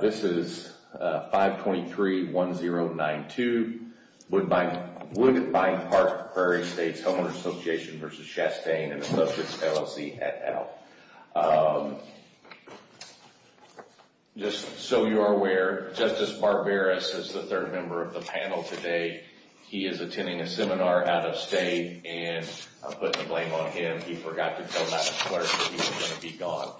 This is 523-1092 Woodbine Park Prairie Estates Homeowners Association v. Chastain & Associates LLC, et al. Just so you are aware, Justice Barberis is the third member of the panel today. He is attending a seminar out of state and I'm putting the blame on him. He forgot to tell Mattis Clark that he was going to be gone.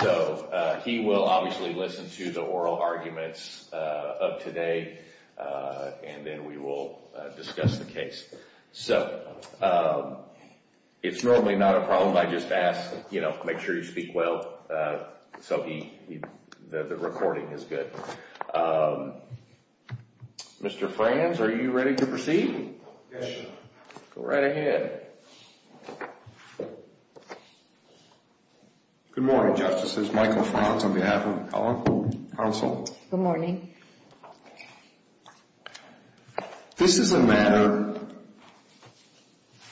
So, he will obviously listen to the oral arguments of today and then we will discuss the case. So, it's normally not a problem. I just ask, you know, make sure you speak well so the recording is good. Mr. Franz, are you ready to proceed? Yes, Your Honor. Go right ahead. Good morning, Justices. Michael Franz on behalf of the Counsel. Good morning. This is a matter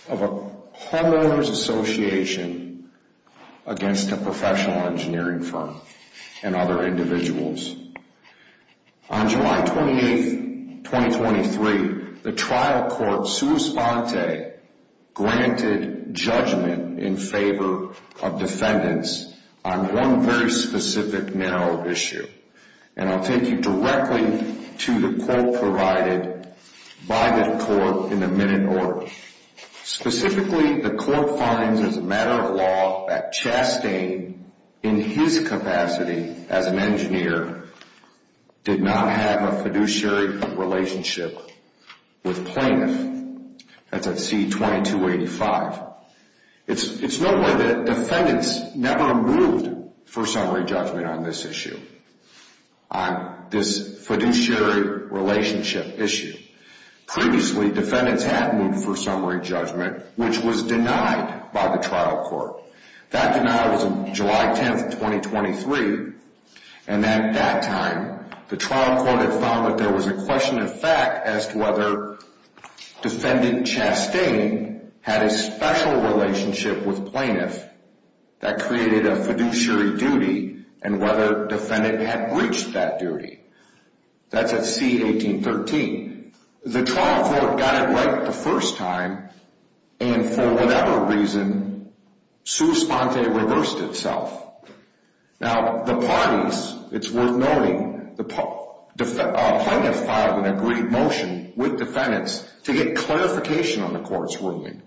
of a homeowners association against a professional engineering firm and other individuals. On July 28, 2023, the trial court, sua sponte, granted judgment in favor of defendants on one very specific narrow issue. And I'll take you directly to the quote provided by the court in a minute order. Specifically, the court finds as a matter of law that Chastain, in his capacity as an engineer, did not have a fiduciary relationship with plaintiff. That's at C-2285. It's noteworthy that defendants never moved for summary judgment on this issue, on this fiduciary relationship issue. Previously, defendants had moved for summary judgment, which was denied by the trial court. That denial was on July 10, 2023. And at that time, the trial court had found that there was a question of fact as to whether defendant Chastain had a special relationship with plaintiff that created a fiduciary duty and whether defendant had breached that duty. That's at C-1813. The trial court got it right the first time, and for whatever reason, sua sponte reversed itself. Now, the parties, it's worth noting, the plaintiff filed an agreed motion with defendants to get clarification on the court's ruling.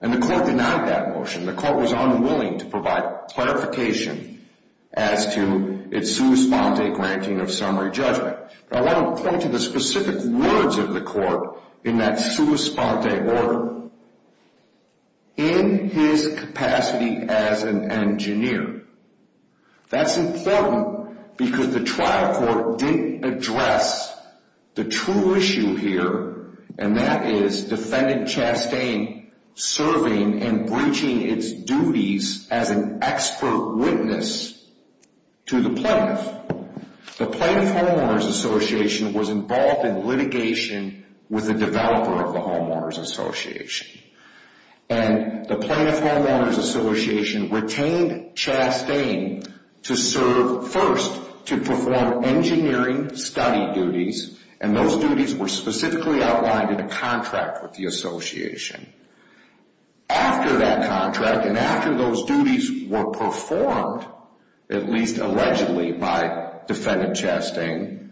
And the court denied that motion. The court was unwilling to provide clarification as to its sua sponte granting of summary judgment. I want to point to the specific words of the court in that sua sponte order. In his capacity as an engineer. That's important because the trial court didn't address the true issue here, and that is defendant Chastain serving and breaching its duties as an expert witness to the plaintiff. The Plaintiff Homeowners Association was involved in litigation with the developer of the Homeowners Association. And the Plaintiff Homeowners Association retained Chastain to serve first to perform engineering study duties, and those duties were specifically outlined in a contract with the association. After that contract, and after those duties were performed, at least allegedly by defendant Chastain,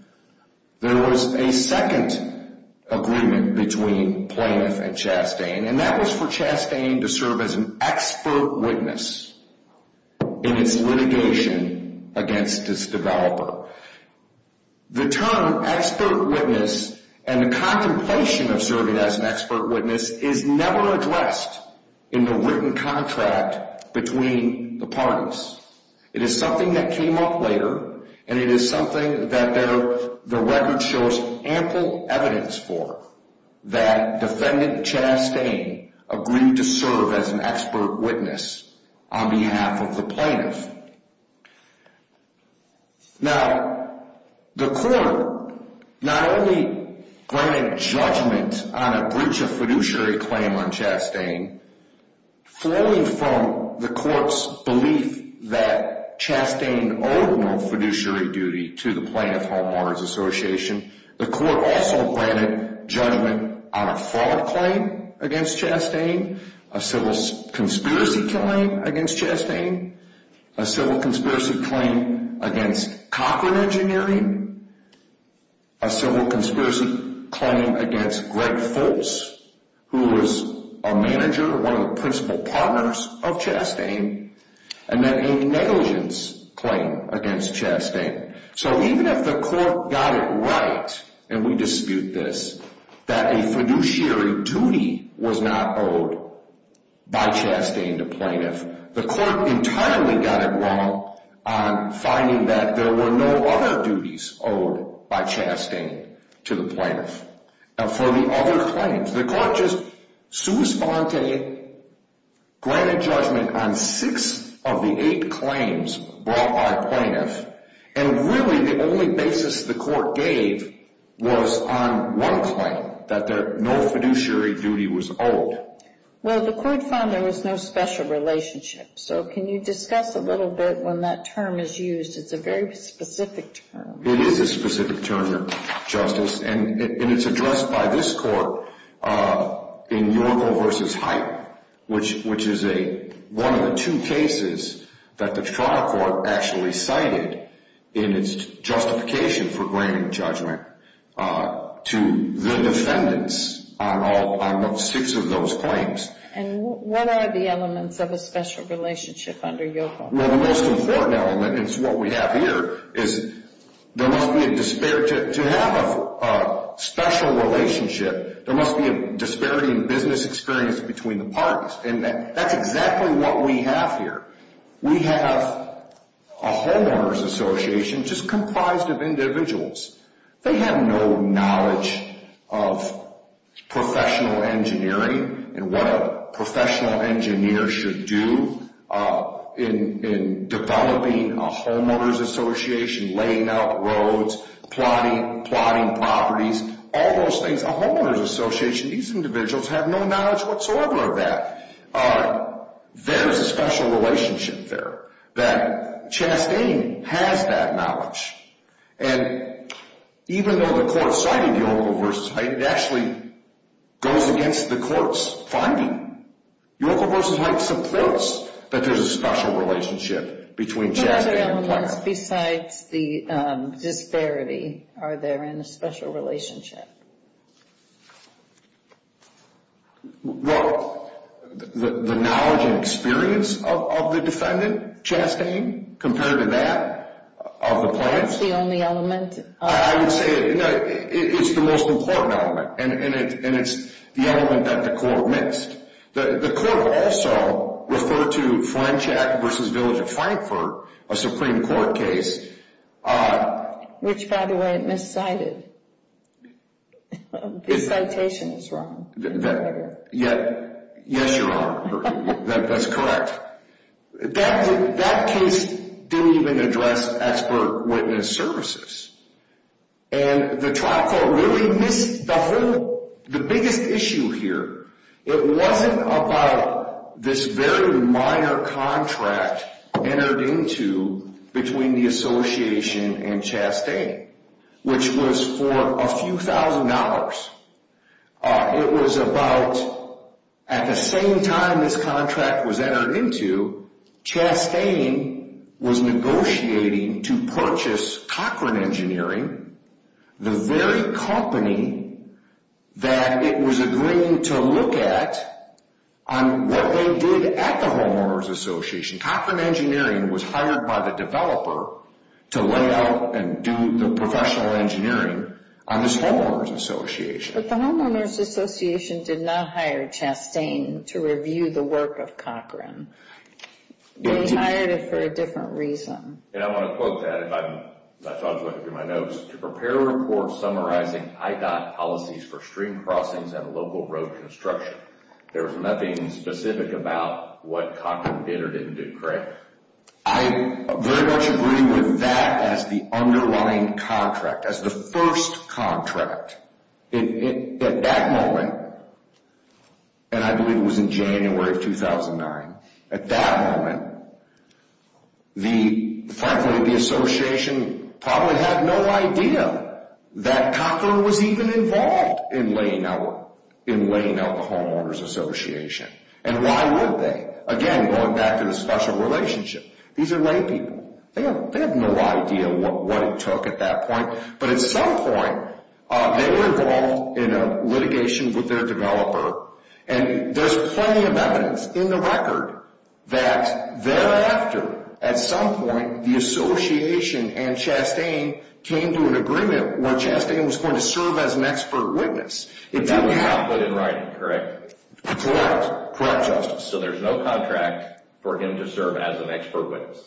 there was a second agreement between plaintiff and Chastain, and that was for Chastain to serve as an expert witness in its litigation against its developer. The term expert witness and the contemplation of serving as an expert witness is never addressed in the written contract between the parties. It is something that came up later, and it is something that the record shows ample evidence for, that defendant Chastain agreed to serve as an expert witness on behalf of the plaintiff. Now, the court not only granted judgment on a breach of fiduciary claim on Chastain, falling from the court's belief that Chastain owed no fiduciary duty to the Plaintiff Homeowners Association, the court also granted judgment on a fraud claim against Chastain, a civil conspiracy claim against Chastain, a civil conspiracy claim against Cochran Engineering, a civil conspiracy claim against Greg Foltz, who was a manager, one of the principal partners of Chastain, and then a negligence claim against Chastain. So even if the court got it right, and we dispute this, that a fiduciary duty was not owed by Chastain to plaintiff, the court entirely got it wrong on finding that there were no other duties owed by Chastain to the plaintiff. Now, for the other claims, the court just sui sponte, granted judgment on six of the eight claims brought by plaintiff, and really the only basis the court gave was on one claim, that no fiduciary duty was owed. Well, the court found there was no special relationship. So can you discuss a little bit when that term is used? It's a very specific term. It is a specific term, Justice, and it's addressed by this court in Yorkel v. Height, which is one of the two cases that the trial court actually cited in its justification for granting judgment to the defendants on six of those claims. And what are the elements of a special relationship under Yorkel? Well, the most important element, and it's what we have here, is there must be a, to have a special relationship, there must be a disparity in business experience between the parties, and that's exactly what we have here. We have a homeowners association just comprised of individuals. They have no knowledge of professional engineering and what a professional engineer should do in developing a homeowners association, laying out roads, plotting properties, all those things. A homeowners association, these individuals have no knowledge whatsoever of that. There's a special relationship there, that Chastain has that knowledge. And even though the court cited Yorkel v. Height, it actually goes against the court's finding. Yorkel v. Height supports that there's a special relationship between Chastain and Platt. What other elements besides the disparity are there in a special relationship? Well, the knowledge and experience of the defendant, Chastain, compared to that, of the Platts. That's the only element? I would say it's the most important element, and it's the element that the court missed. The court also referred to Flenshack v. Village of Frankfort, a Supreme Court case. Which, by the way, it miscited. This citation is wrong. Yes, you're wrong. That's correct. That case didn't even address expert witness services. And the trial court really missed the biggest issue here. It wasn't about this very minor contract entered into between the association and Chastain, which was for a few thousand dollars. It was about at the same time this contract was entered into, Chastain was negotiating to purchase Cochran Engineering, the very company that it was agreeing to look at on what they did at the Homeowners Association. Cochran Engineering was hired by the developer to lay out and do the professional engineering on this Homeowners Association. But the Homeowners Association did not hire Chastain to review the work of Cochran. They hired him for a different reason. And I want to quote that. I thought I was looking through my notes. To prepare a report summarizing IDOT policies for stream crossings and local road construction. There was nothing specific about what Cochran did or didn't do, correct? I very much agree with that as the underlying contract, as the first contract. At that moment, and I believe it was in January of 2009, at that moment, frankly, the association probably had no idea that Cochran was even involved in laying out the Homeowners Association. And why would they? Again, going back to the special relationship. These are lay people. They have no idea what it took at that point. But at some point, they were involved in a litigation with their developer. And there's plenty of evidence in the record that thereafter, at some point, the association and Chastain came to an agreement where Chastain was going to serve as an expert witness. That was not put in writing, correct? Correct. Correct, Justice. So there's no contract for him to serve as an expert witness?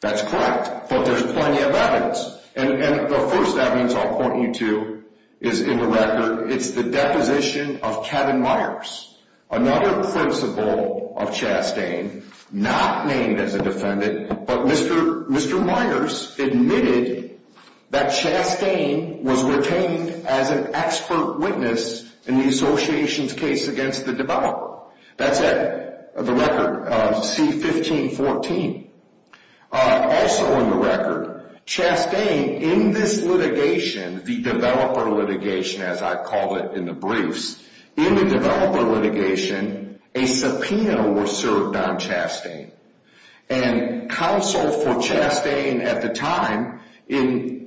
That's correct. But there's plenty of evidence. And the first evidence I'll point you to is in the record. It's the deposition of Kevin Myers, another principal of Chastain, not named as a defendant, but Mr. Myers admitted that Chastain was retained as an expert witness in the association's case against the developer. That's in the record, C-1514. Also in the record, Chastain, in this litigation, the developer litigation, as I call it in the briefs, in the developer litigation, a subpoena was served on Chastain. And counsel for Chastain at the time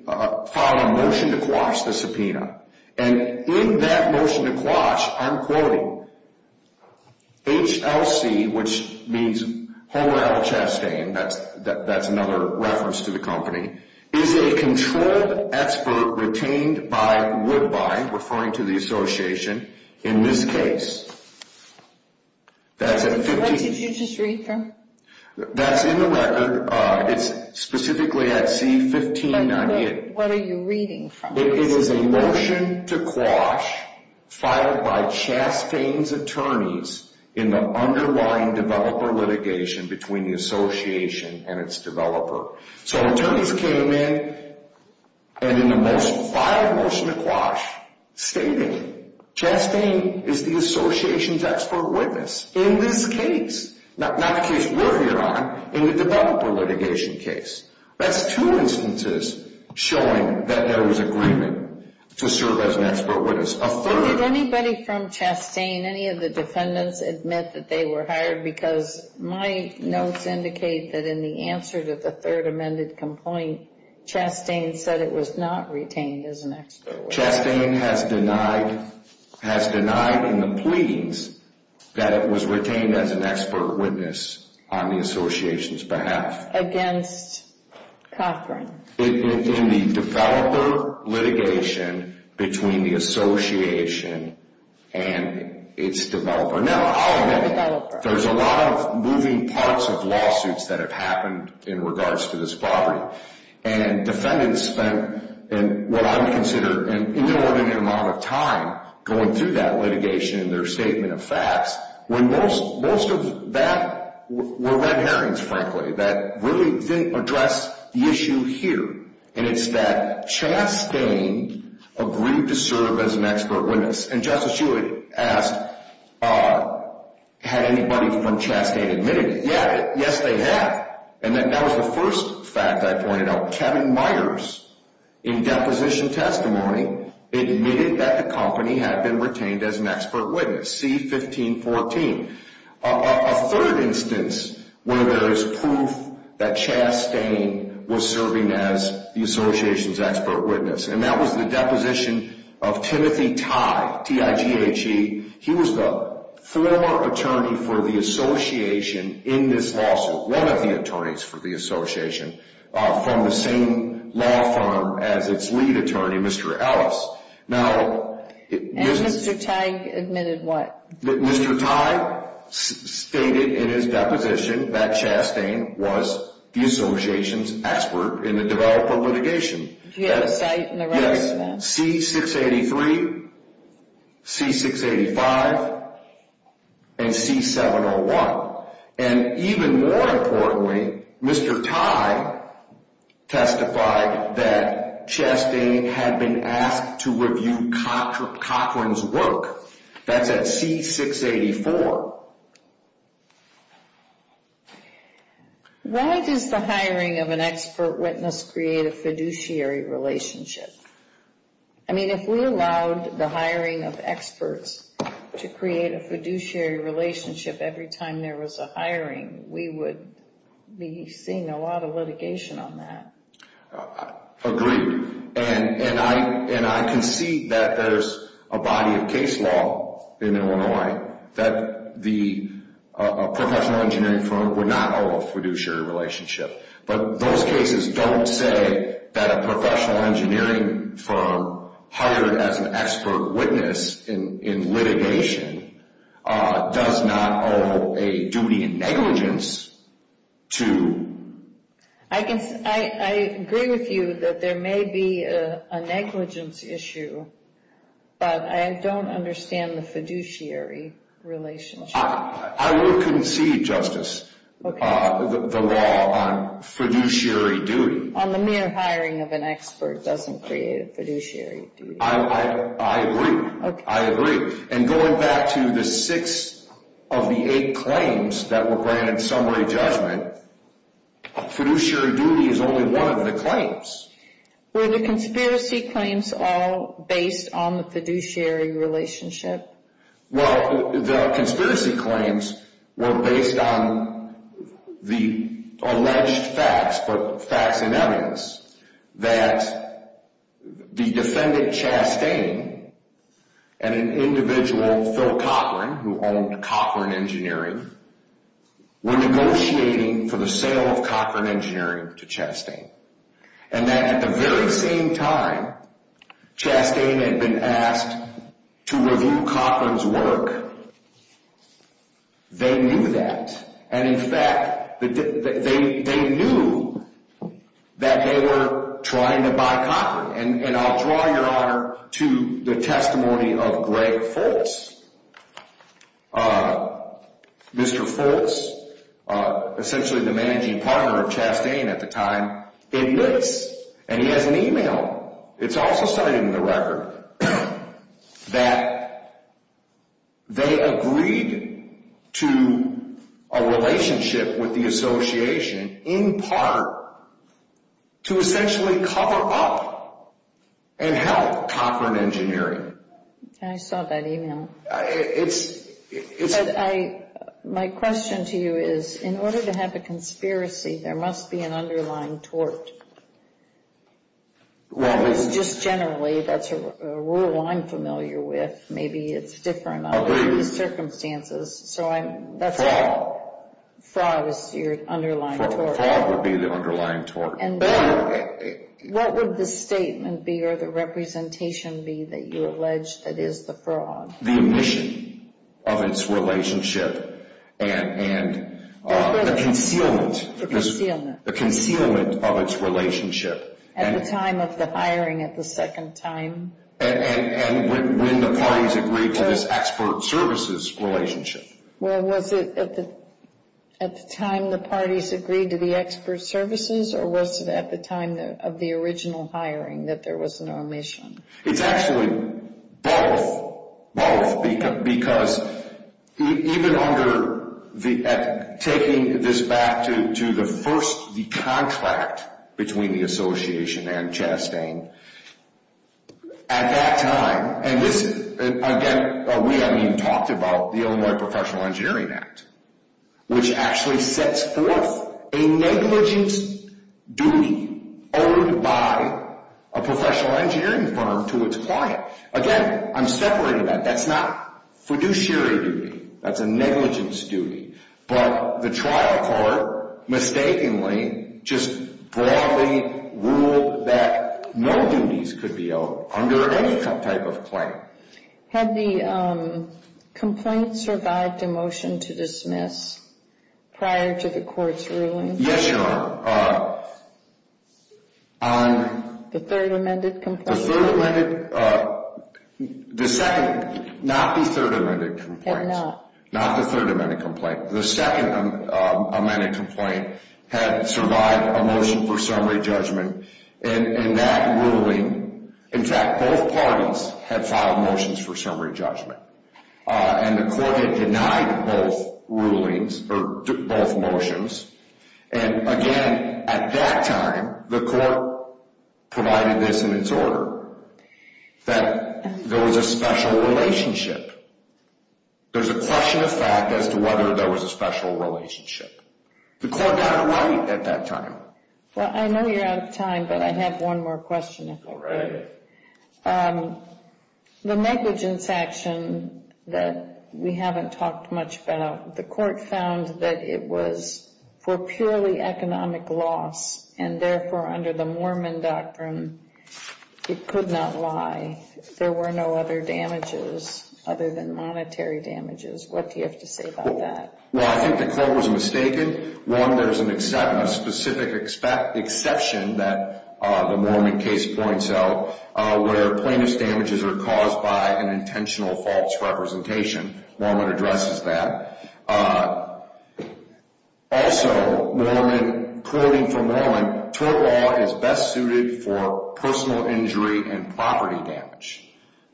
filed a motion to quash the subpoena. And in that motion to quash, I'm quoting, HLC, which means Holel Chastain, that's another reference to the company, is a controlled expert retained by Woodbye, referring to the association, in this case. What did you just read from? That's in the record. It's specifically at C-1598. What are you reading from? It is a motion to quash filed by Chastain's attorneys in the underlying developer litigation between the association and its developer. So attorneys came in and in the most filed motion to quash stated, Chastain is the association's expert witness in this case. Not the case we're here on, in the developer litigation case. That's two instances showing that there was agreement to serve as an expert witness. Did anybody from Chastain, any of the defendants admit that they were hired? Because my notes indicate that in the answer to the third amended complaint, Chastain said it was not retained as an expert witness. Chastain has denied in the pleadings that it was retained as an expert witness on the association's behalf. That's against Coughran. In the developer litigation between the association and its developer. Now, I'll admit, there's a lot of moving parts of lawsuits that have happened in regards to this property. And defendants spent what I would consider an inordinate amount of time going through that litigation and their statement of facts. Most of that were red herrings, frankly, that really didn't address the issue here. And it's that Chastain agreed to serve as an expert witness. And Justice Hewitt asked, had anybody from Chastain admitted? Yes, they have. And that was the first fact I pointed out. Kevin Myers, in deposition testimony, admitted that the company had been retained as an expert witness. C-1514. A third instance where there is proof that Chastain was serving as the association's expert witness. And that was the deposition of Timothy Tighe. T-I-G-H-E. He was the former attorney for the association in this lawsuit. One of the attorneys for the association from the same law firm as its lead attorney, Mr. Ellis. And Mr. Tighe admitted what? Mr. Tighe stated in his deposition that Chastain was the association's expert in the developer litigation. Do you have a cite in the record for that? Yes, C-683, C-685, and C-701. And even more importantly, Mr. Tighe testified that Chastain had been asked to review Cochran's work. That's at C-684. Why does the hiring of an expert witness create a fiduciary relationship? I mean, if we allowed the hiring of experts to create a fiduciary relationship every time there was a hiring, we would be seeing a lot of litigation on that. Agreed. And I concede that there's a body of case law in Illinois that the professional engineering firm would not owe a fiduciary relationship. But those cases don't say that a professional engineering firm hired as an expert witness in litigation does not owe a duty in negligence to. I agree with you that there may be a negligence issue, but I don't understand the fiduciary relationship. I would concede, Justice, the law on fiduciary duty. On the mere hiring of an expert doesn't create a fiduciary duty. I agree. I agree. And going back to the six of the eight claims that were granted summary judgment, fiduciary duty is only one of the claims. Were the conspiracy claims all based on the fiduciary relationship? Well, the conspiracy claims were based on the alleged facts, but facts and evidence that the defendant, Chastain, and an individual, Phil Cochran, who owned Cochran Engineering, were negotiating for the sale of Cochran Engineering to Chastain. And that at the very same time, Chastain had been asked to review Cochran's work. They knew that. And in fact, they knew that they were trying to buy Cochran. And I'll draw your honor to the testimony of Greg Foltz. Mr. Foltz, essentially the managing partner of Chastain at the time, admits, and he has an e-mail, it's also cited in the record, that they agreed to a relationship with the association in part to essentially cover up and help Cochran Engineering. I saw that e-mail. My question to you is, in order to have a conspiracy, there must be an underlying tort. Well, it's just generally. That's a rule I'm familiar with. Maybe it's different under these circumstances. Fraud is your underlying tort. Fraud would be the underlying tort. What would the statement be or the representation be that you allege that is the fraud? The omission of its relationship and the concealment. The concealment. The concealment of its relationship. At the time of the hiring, at the second time. And when the parties agreed to this expert services relationship. Well, was it at the time the parties agreed to the expert services, or was it at the time of the original hiring that there was an omission? It's actually both. Both. Because even under taking this back to the first contract between the association and Chastain, at that time, and this, again, we haven't even talked about the Illinois Professional Engineering Act, which actually sets forth a negligence duty owed by a professional engineering firm to its client. Again, I'm separating that. That's not fiduciary duty. That's a negligence duty. But the trial court mistakenly just broadly ruled that no duties could be owed under any type of claim. Had the complaint survived a motion to dismiss prior to the court's ruling? Yes, Your Honor. On? The third amended complaint. The third amended. The second. Not the third amended complaint. Had not. Not the third amended complaint. The second amended complaint had survived a motion for summary judgment, and that ruling, in fact, both parties had filed motions for summary judgment, and the court had denied both rulings, or both motions. And, again, at that time, the court provided this in its order, that there was a special relationship. There's a question of fact as to whether there was a special relationship. The court got it right at that time. Well, I know you're out of time, but I have one more question. Go right ahead. The negligence action that we haven't talked much about, the court found that it was for purely economic loss, and, therefore, under the Mormon doctrine, it could not lie. There were no other damages other than monetary damages. What do you have to say about that? Well, I think the court was mistaken. One, there's a specific exception that the Mormon case points out where plaintiff's damages are caused by an intentional false representation. Mormon addresses that. Also, quoting from Mormon, tort law is best suited for personal injury and property damage.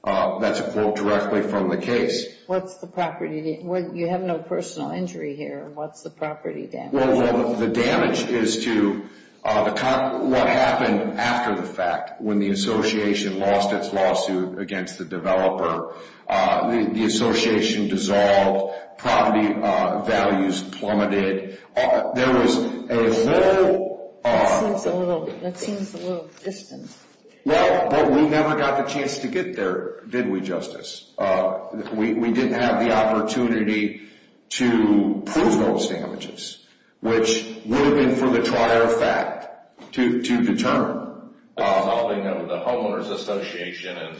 That's a quote directly from the case. What's the property damage? You have no personal injury here. What's the property damage? Well, the damage is to what happened after the fact, when the association lost its lawsuit against the developer. The association dissolved. Property values plummeted. There was no... That seems a little distant. Well, but we never got the chance to get there, did we, Justice? We didn't have the opportunity to prove those damages, which would have been for the trier fact to determine. I'll bring up the homeowner's association.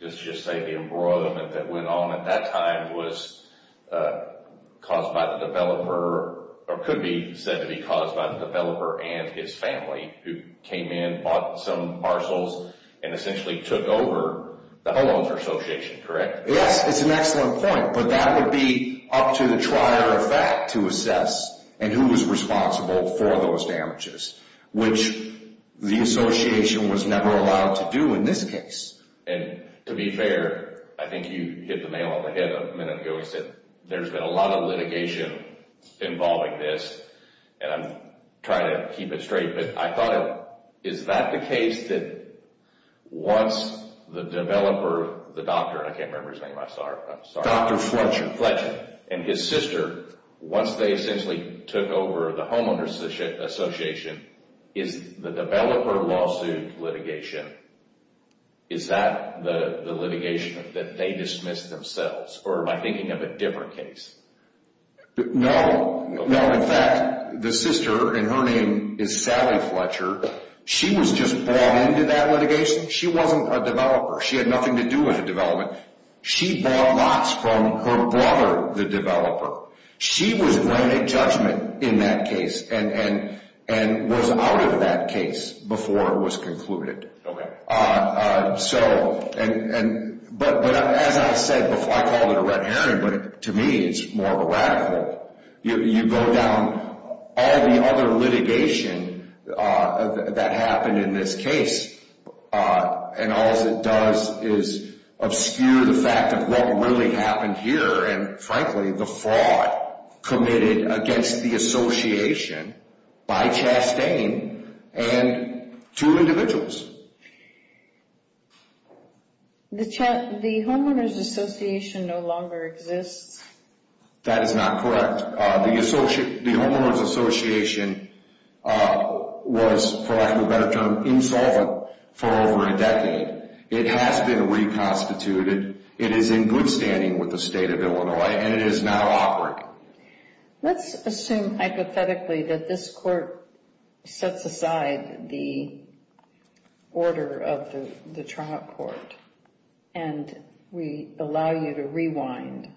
Let's just say the embroiderment that went on at that time was caused by the developer, or could be said to be caused by the developer and his family, who came in, bought some parcels, and essentially took over the homeowner's association, correct? Yes, it's an excellent point, but that would be up to the trier of fact to assess, and who was responsible for those damages. Which the association was never allowed to do in this case. And to be fair, I think you hit the nail on the head a minute ago. You said there's been a lot of litigation involving this, and I'm trying to keep it straight, but I thought, is that the case that once the developer, the doctor, I can't remember his name, I'm sorry. Dr. Fletcher. Dr. Fletcher and his sister, once they essentially took over the homeowner's association, is the developer lawsuit litigation, is that the litigation that they dismissed themselves? Or am I thinking of a different case? No. No, in fact, the sister, and her name is Sally Fletcher, she was just brought into that litigation. She wasn't a developer. She had nothing to do with the development. She bought lots from her brother, the developer. She was granted judgment in that case, and was out of that case before it was concluded. Okay. So, but as I said before, I called it a red herring, but to me it's more of a rag hole. You go down all the other litigation that happened in this case, and all it does is obscure the fact of what really happened here, and frankly the fraud committed against the association by Chastain and two individuals. The homeowners association no longer exists. That is not correct. The homeowners association was, for lack of a better term, insolvent for over a decade. It has been reconstituted. It is in good standing with the state of Illinois, and it is now operating. Let's assume hypothetically that this court sets aside the order of the trial court, and we allow you to rewind.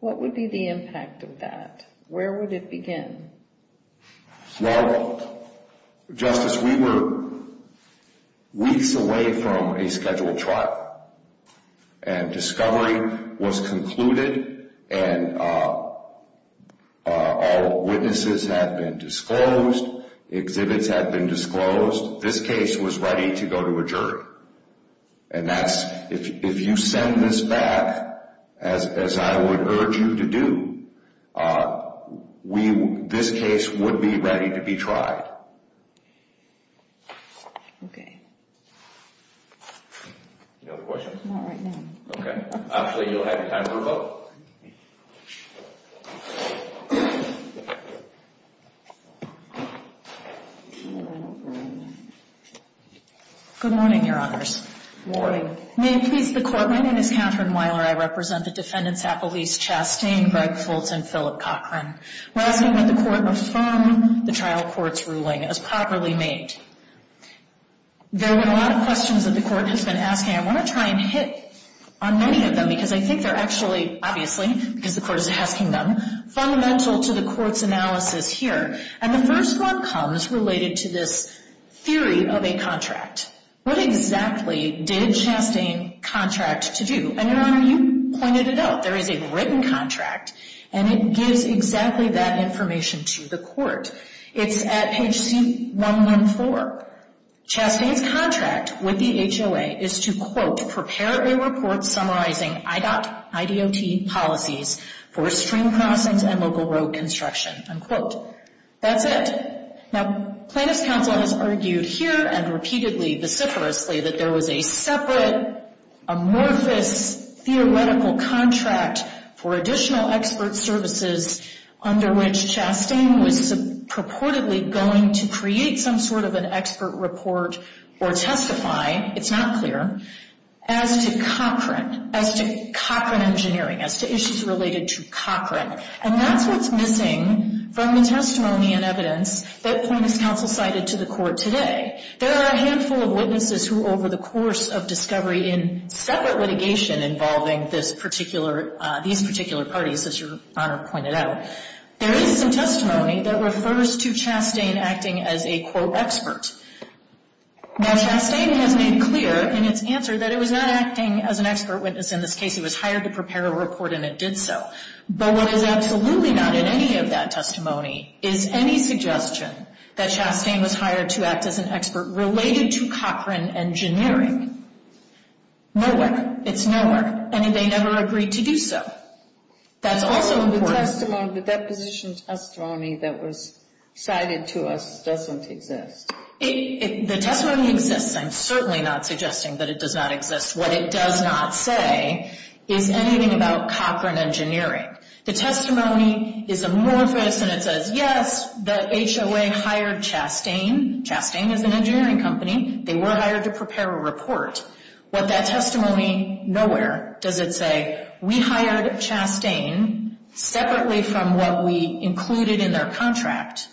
What would be the impact of that? Where would it begin? Well, Justice, we were weeks away from a scheduled trial, and discovery was concluded, and all witnesses had been disclosed. Exhibits had been disclosed. This case was ready to go to a jury. And if you send this back, as I would urge you to do, this case would be ready to be tried. Okay. Any other questions? Not right now. Okay. Actually, you'll have time for a vote. Good morning, Your Honors. Good morning. May it please the Court, my name is Catherine Weiler. I represent the defendants, Appolice Chastain, Greg Fultz, and Philip Cochran. We're asking that the Court affirm the trial court's ruling as properly made. There have been a lot of questions that the Court has been asking. I want to try and hit on many of them because I think they're actually, obviously, because the Court is asking them, fundamental to the Court's analysis here. And the first one comes related to this theory of a contract. What exactly did Chastain contract to do? And, Your Honor, you pointed it out. There is a written contract, and it gives exactly that information to the Court. It's at page 114. Chastain's contract with the HOA is to, quote, prepare a report summarizing IDOT policies for stream crossings and local road construction, unquote. That's it. Now, Plaintiff's Counsel has argued here and repeatedly, vociferously, that there was a separate, amorphous, theoretical contract for additional expert services under which Chastain was purportedly going to create some sort of an expert report or testify, it's not clear, as to Cochran, as to Cochran engineering, as to issues related to Cochran. And that's what's missing from the testimony and evidence that Plaintiff's Counsel cited to the Court today. There are a handful of witnesses who, over the course of discovery in separate litigation involving these particular parties, as Your Honor pointed out, there is some testimony that refers to Chastain acting as a, quote, expert. Now, Chastain has made clear in its answer that it was not acting as an expert witness in this case. It was hired to prepare a report, and it did so. But what is absolutely not in any of that testimony is any suggestion that Chastain was hired to act as an expert related to Cochran engineering. Nowhere. It's nowhere. And they never agreed to do so. That's also important. The testimony, the deposition testimony that was cited to us doesn't exist. The testimony exists. I'm certainly not suggesting that it does not exist. What it does not say is anything about Cochran engineering. The testimony is amorphous, and it says, yes, the HOA hired Chastain. Chastain is an engineering company. They were hired to prepare a report. What that testimony, nowhere does it say. We hired Chastain separately from what we included in their contract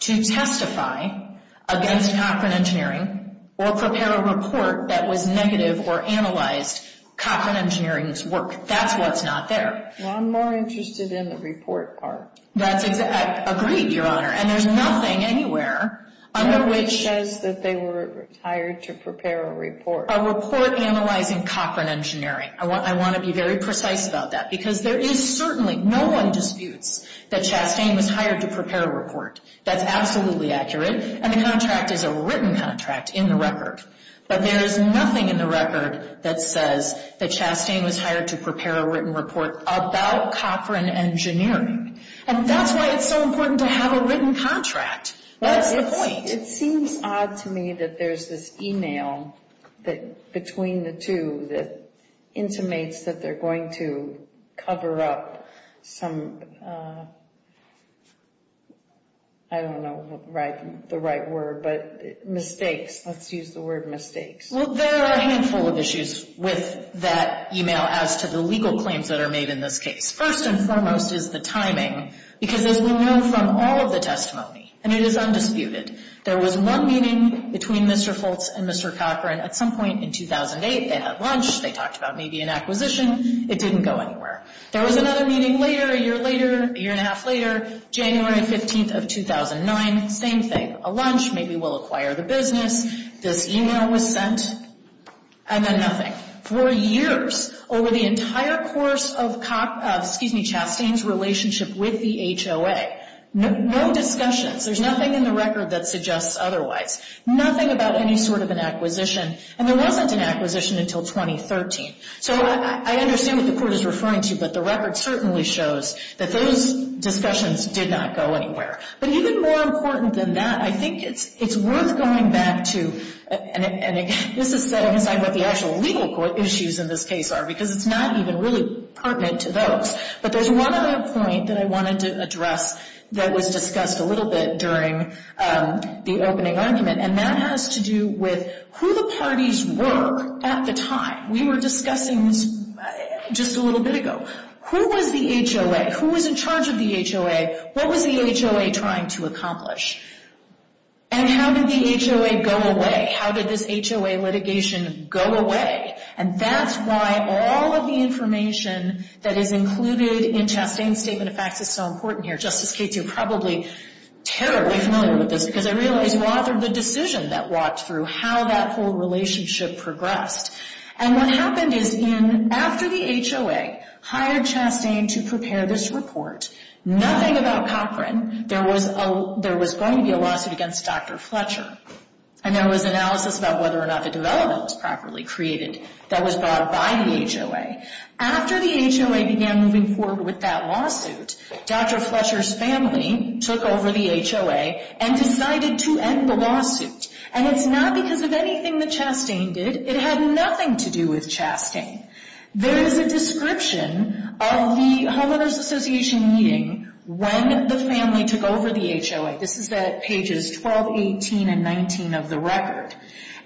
to testify against Cochran engineering or prepare a report that was negative or analyzed Cochran engineering's work. That's what's not there. Well, I'm more interested in the report part. Agreed, Your Honor. And there's nothing anywhere under which— It says that they were hired to prepare a report. A report analyzing Cochran engineering. I want to be very precise about that because there is certainly, no one disputes, that Chastain was hired to prepare a report. That's absolutely accurate, and the contract is a written contract in the record. But there is nothing in the record that says that Chastain was hired to prepare a written report about Cochran engineering. And that's why it's so important to have a written contract. That's the point. It seems odd to me that there's this email between the two that intimates that they're going to cover up some— I don't know the right word, but mistakes. Let's use the word mistakes. Well, there are a handful of issues with that email as to the legal claims that are made in this case. First and foremost is the timing, because as we know from all of the testimony, and it is undisputed, there was one meeting between Mr. Foltz and Mr. Cochran at some point in 2008. They had lunch. They talked about maybe an acquisition. It didn't go anywhere. There was another meeting later, a year later, a year and a half later, January 15th of 2009. Same thing. A lunch, maybe we'll acquire the business. This email was sent, and then nothing. For years, over the entire course of Chastain's relationship with the HOA, no discussions. There's nothing in the record that suggests otherwise. Nothing about any sort of an acquisition, and there wasn't an acquisition until 2013. So I understand what the Court is referring to, but the record certainly shows that those discussions did not go anywhere. But even more important than that, I think it's worth going back to— and this is setting aside what the actual legal issues in this case are, because it's not even really pertinent to those. But there's one other point that I wanted to address that was discussed a little bit during the opening argument, and that has to do with who the parties were at the time. We were discussing this just a little bit ago. Who was the HOA? Who was in charge of the HOA? What was the HOA trying to accomplish? And how did the HOA go away? How did this HOA litigation go away? And that's why all of the information that is included in Chastain's statement of facts is so important here. Justice Cates, you're probably terribly familiar with this, because I realize you authored the decision that walked through how that whole relationship progressed. And what happened is, after the HOA hired Chastain to prepare this report, nothing about Cochran. There was going to be a lawsuit against Dr. Fletcher. And there was analysis about whether or not the development was properly created that was brought by the HOA. After the HOA began moving forward with that lawsuit, Dr. Fletcher's family took over the HOA and decided to end the lawsuit. And it's not because of anything that Chastain did. It had nothing to do with Chastain. There is a description of the Homeowners Association meeting when the family took over the HOA. This is at pages 12, 18, and 19 of the record.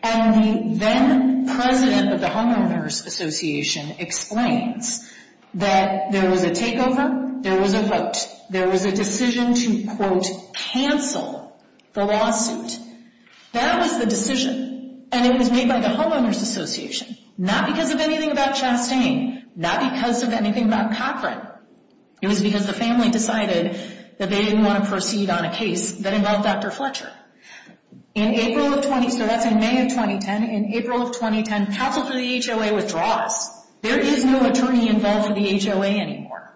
And the then-president of the Homeowners Association explains that there was a takeover. There was a vote. There was a decision to, quote, cancel the lawsuit. That was the decision. And it was made by the Homeowners Association. Not because of anything about Chastain. Not because of anything about Cochran. It was because the family decided that they didn't want to proceed on a case that involved Dr. Fletcher. In April of 20—so that's in May of 2010. In April of 2010, counsel for the HOA withdraws. There is no attorney involved for the HOA anymore.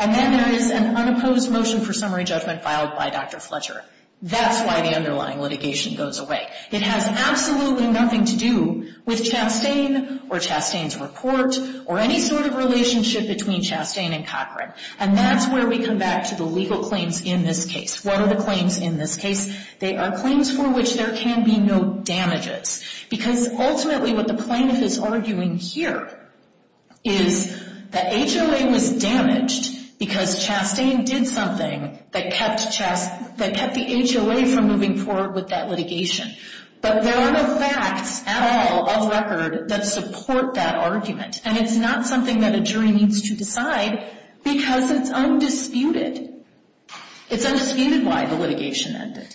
And then there is an unopposed motion for summary judgment filed by Dr. Fletcher. That's why the underlying litigation goes away. It has absolutely nothing to do with Chastain or Chastain's report or any sort of relationship between Chastain and Cochran. And that's where we come back to the legal claims in this case. What are the claims in this case? They are claims for which there can be no damages. Because ultimately what the plaintiff is arguing here is that HOA was damaged because Chastain did something that kept the HOA from moving forward with that litigation. But there are no facts at all of record that support that argument. And it's not something that a jury needs to decide because it's undisputed. It's undisputed why the litigation ended.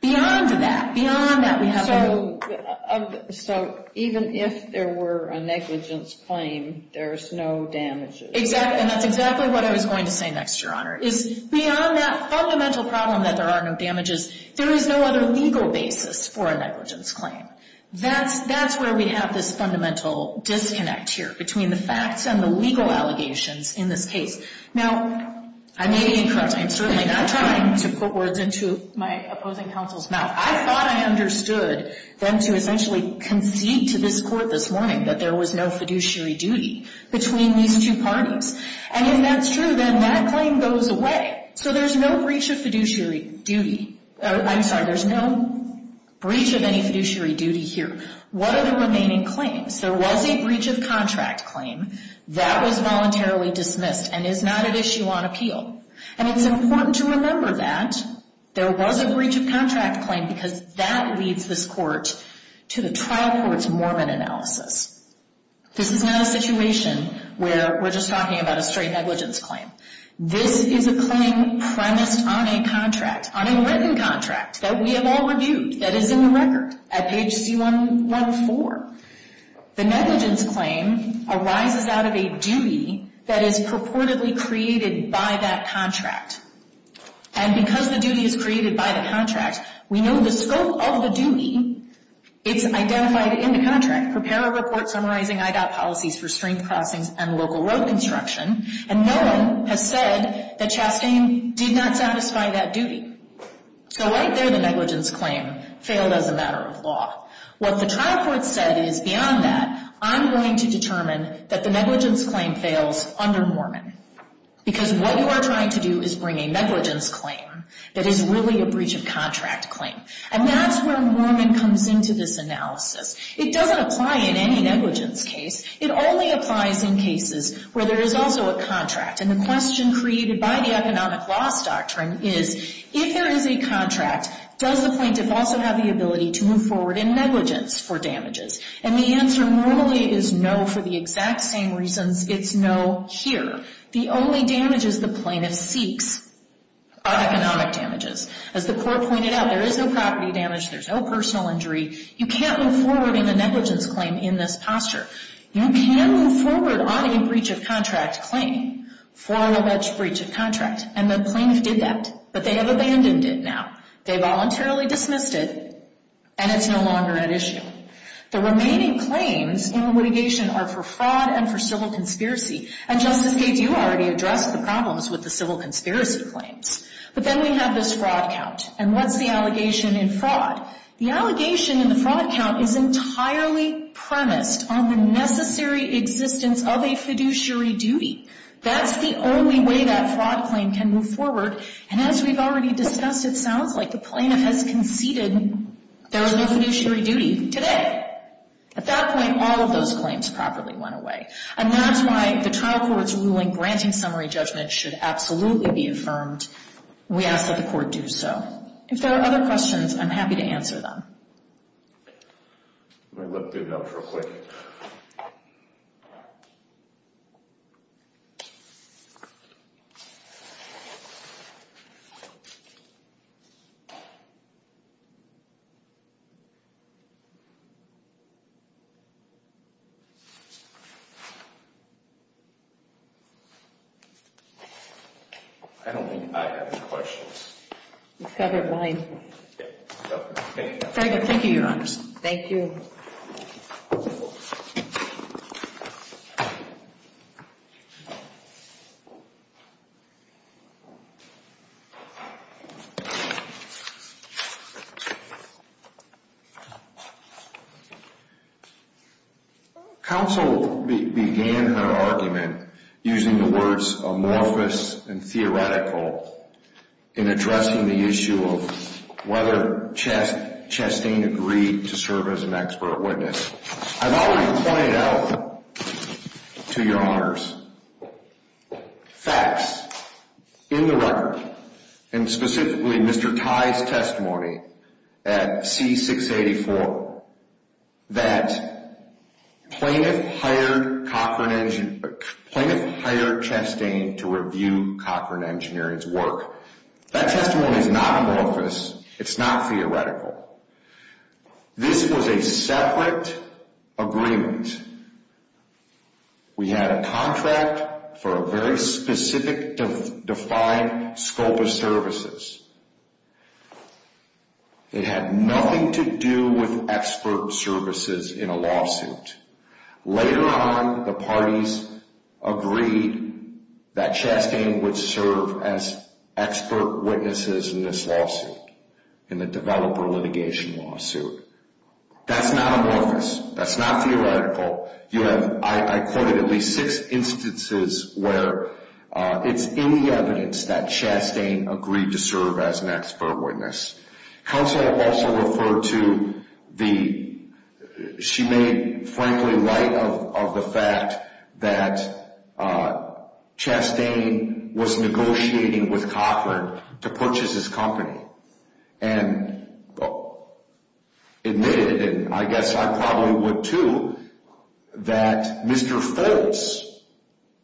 Beyond that, beyond that, we have— So even if there were a negligence claim, there's no damages. Exactly. And that's exactly what I was going to say next, Your Honor, is beyond that fundamental problem that there are no damages, there is no other legal basis for a negligence claim. That's where we have this fundamental disconnect here between the facts and the legal allegations in this case. Now, I may be incorrect. I am certainly not trying to put words into my opposing counsel's mouth. I thought I understood them to essentially concede to this Court this morning that there was no fiduciary duty between these two parties. And if that's true, then that claim goes away. So there's no breach of fiduciary duty. I'm sorry, there's no breach of any fiduciary duty here. What are the remaining claims? There was a breach of contract claim. That was voluntarily dismissed and is not at issue on appeal. And it's important to remember that there was a breach of contract claim because that leads this Court to the trial court's Mormon analysis. This is not a situation where we're just talking about a straight negligence claim. This is a claim premised on a contract, on a written contract that we have all reviewed that is in the record at page C-114. The negligence claim arises out of a duty that is purportedly created by that contract. And because the duty is created by the contract, we know the scope of the duty. It's identified in the contract. Prepare a report summarizing IDOT policies for stream crossings and local road construction. And no one has said that Chastain did not satisfy that duty. So right there, the negligence claim failed as a matter of law. What the trial court said is, beyond that, I'm going to determine that the negligence claim fails under Mormon because what you are trying to do is bring a negligence claim that is really a breach of contract claim. And that's where Mormon comes into this analysis. It doesn't apply in any negligence case. It only applies in cases where there is also a contract. And the question created by the economic loss doctrine is, if there is a contract, does the plaintiff also have the ability to move forward in negligence for damages? And the answer normally is no for the exact same reasons. It's no here. The only damages the plaintiff seeks are economic damages. As the court pointed out, there is no property damage. There's no personal injury. You can't move forward in a negligence claim in this posture. You can move forward on a breach of contract claim for an alleged breach of contract. And the plaintiff did that, but they have abandoned it now. They voluntarily dismissed it, and it's no longer an issue. The remaining claims in litigation are for fraud and for civil conspiracy. And, Justice Gates, you already addressed the problems with the civil conspiracy claims. But then we have this fraud count. And what's the allegation in fraud? The allegation in the fraud count is entirely premised on the necessary existence of a fiduciary duty. That's the only way that fraud claim can move forward. And as we've already discussed, it sounds like the plaintiff has conceded there is no fiduciary duty. Today. At that point, all of those claims properly went away. And that's why the trial court's ruling granting summary judgment should absolutely be affirmed. We ask that the court do so. If there are other questions, I'm happy to answer them. Let me look through those real quick. I don't think I have any questions. You've covered mine. Very good. Thank you, Your Honors. Thank you. Counsel began her argument using the words amorphous and theoretical in addressing the issue of whether Chastain agreed to serve as an expert witness. I've already pointed out to Your Honors facts in the record, and specifically Mr. Tye's testimony at C-684, that plaintiff hired Chastain to review Cochran Engineering's work. That testimony is not amorphous. It's not theoretical. This was a separate agreement. We had a contract for a very specific defined scope of services. It had nothing to do with expert services in a lawsuit. Later on, the parties agreed that Chastain would serve as expert witnesses in this lawsuit, in the developer litigation lawsuit. That's not amorphous. That's not theoretical. I quoted at least six instances where it's in the evidence that Chastain agreed to serve as an expert witness. Counsel also referred to the – she made, frankly, light of the fact that Chastain was negotiating with Cochran to purchase his company and admitted, and I guess I probably would too, that Mr. Foltz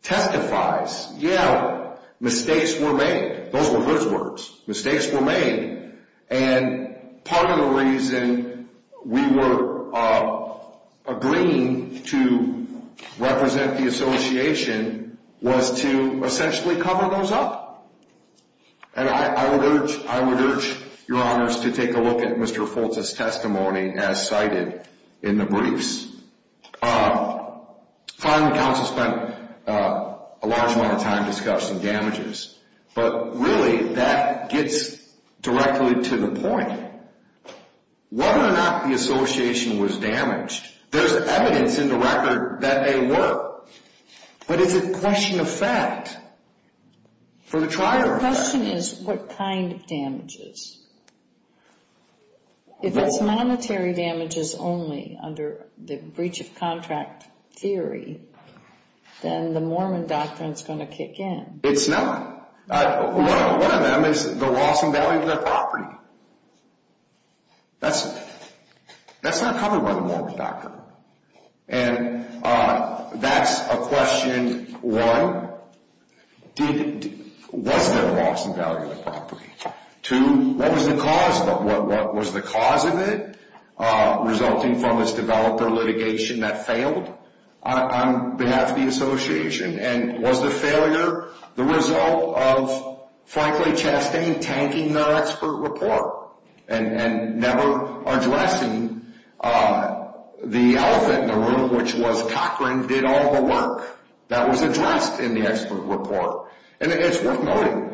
testifies, yeah, mistakes were made. Those were his words. Mistakes were made, and part of the reason we were agreeing to represent the association was to essentially cover those up. And I would urge Your Honors to take a look at Mr. Foltz's testimony as cited in the briefs. Finally, counsel spent a large amount of time discussing damages. But really, that gets directly to the point. Whether or not the association was damaged, there's evidence in the record that they were. But is it question of fact for the trier? The question is what kind of damages. If it's monetary damages only under the breach of contract theory, then the Mormon doctrine is going to kick in. It's not. One of them is the loss in value of the property. That's not covered by the Mormon doctrine. And that's a question, one, was there a loss in value of the property? Two, what was the cause of it resulting from this developer litigation that failed on behalf of the association? And was the failure the result of, frankly, Chastain tanking their expert report and never addressing the elephant in the room, which was Cochran did all the work that was addressed in the expert report. And it's worth noting,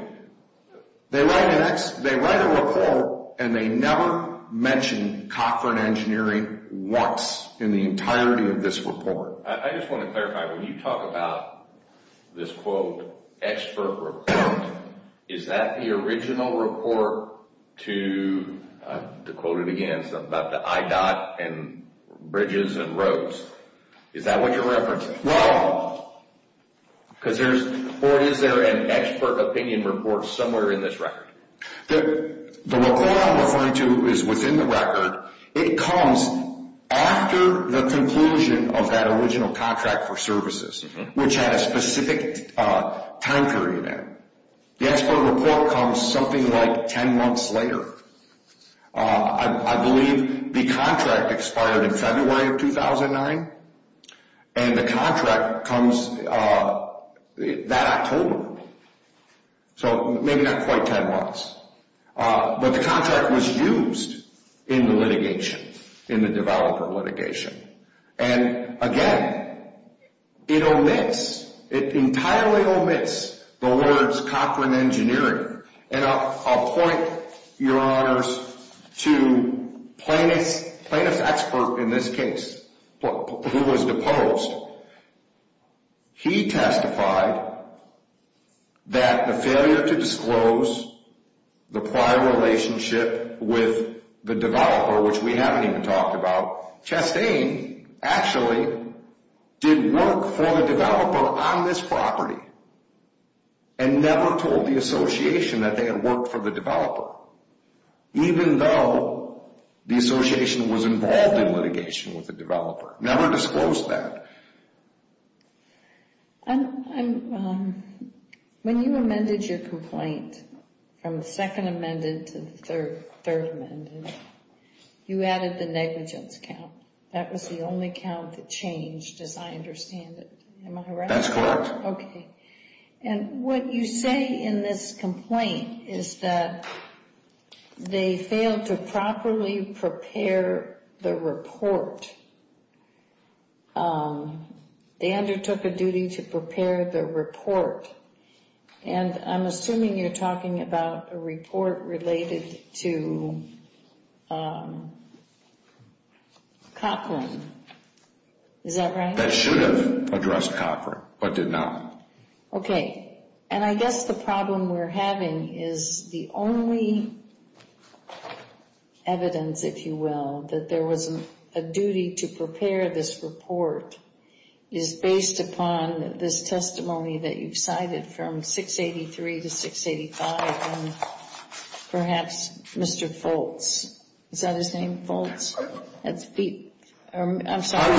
they write a report and they never mention Cochran Engineering once in the entirety of this report. I just want to clarify, when you talk about this, quote, expert report, is that the original report to, to quote it again, something about the I-dot and bridges and roads, is that what you're referencing? Well. Because there's, or is there an expert opinion report somewhere in this record? The report I'm referring to is within the record. It comes after the conclusion of that original contract for services, which had a specific time period in it. The expert report comes something like 10 months later. I believe the contract expired in February of 2009, and the contract comes that October. So maybe not quite 10 months. But the contract was used in the litigation, in the developer litigation. And again, it omits, it entirely omits the words Cochran Engineering. And I'll point, Your Honors, to Plaintiff's expert in this case, who was deposed. He testified that the failure to disclose the prior relationship with the developer, which we haven't even talked about, Chastain actually did work for the developer on this property, and never told the association that they had worked for the developer, even though the association was involved in litigation with the developer. Never disclosed that. When you amended your complaint from the second amended to the third amended, you added the negligence count. That was the only count that changed, as I understand it. Am I right? That's correct. Okay. And what you say in this complaint is that they failed to properly prepare the report. They undertook a duty to prepare the report. And I'm assuming you're talking about a report related to Cochran. Is that right? That should have addressed Cochran, but did not. Okay. And I guess the problem we're having is the only evidence, if you will, that there was a duty to prepare this report, is based upon this testimony that you've cited from 683 to 685, and perhaps Mr. Foltz. Is that his name? Foltz? I'm sorry.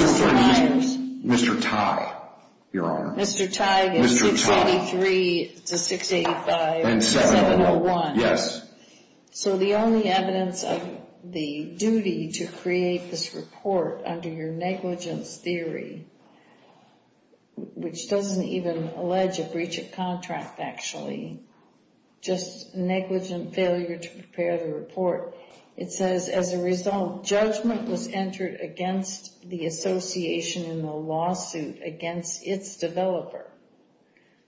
Mr. Tye, Your Honor. Mr. Tye gives 683 to 685, 701. So the only evidence of the duty to create this report under your negligence theory, which doesn't even allege a breach of contract, actually, just negligent failure to prepare the report, it says, as a result, judgment was entered against the association in the lawsuit against its developer.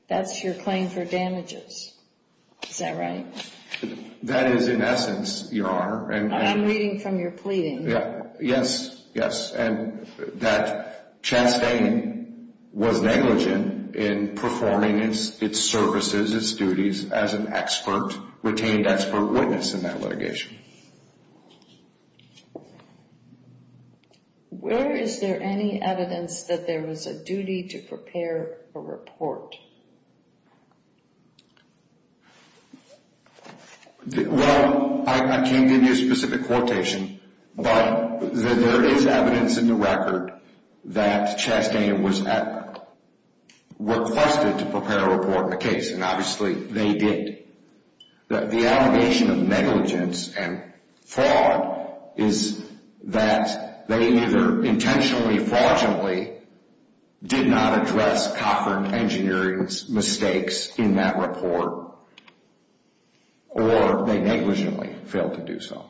That's your claim for damages. Is that right? That is in essence, Your Honor. I'm reading from your pleading. Yes. Yes. And that Chastain was negligent in performing its services, its duties, as an expert, retained expert witness in that litigation. Where is there any evidence that there was a duty to prepare a report? Well, I can't give you a specific quotation, but there is evidence in the record that Chastain was requested to prepare a report in the case. And obviously, they did. The allegation of negligence and fraud is that they either intentionally, fraudulently did not address Cochran Engineering's mistakes in that report, or they negligently failed to do so.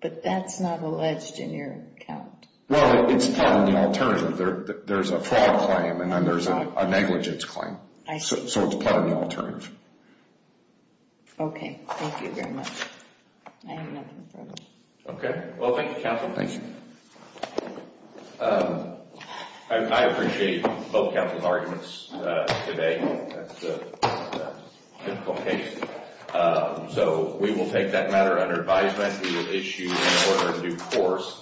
But that's not alleged in your account. Well, it's part of the alternative. There's a fraud claim, and then there's a negligence claim. I see. So it's part of the alternative. Okay. Thank you very much. I have nothing further. Okay. Well, thank you, counsel. Thank you. I appreciate both counsel's arguments today. That's a difficult case. So we will take that matter under advisement. We will issue an order in due course.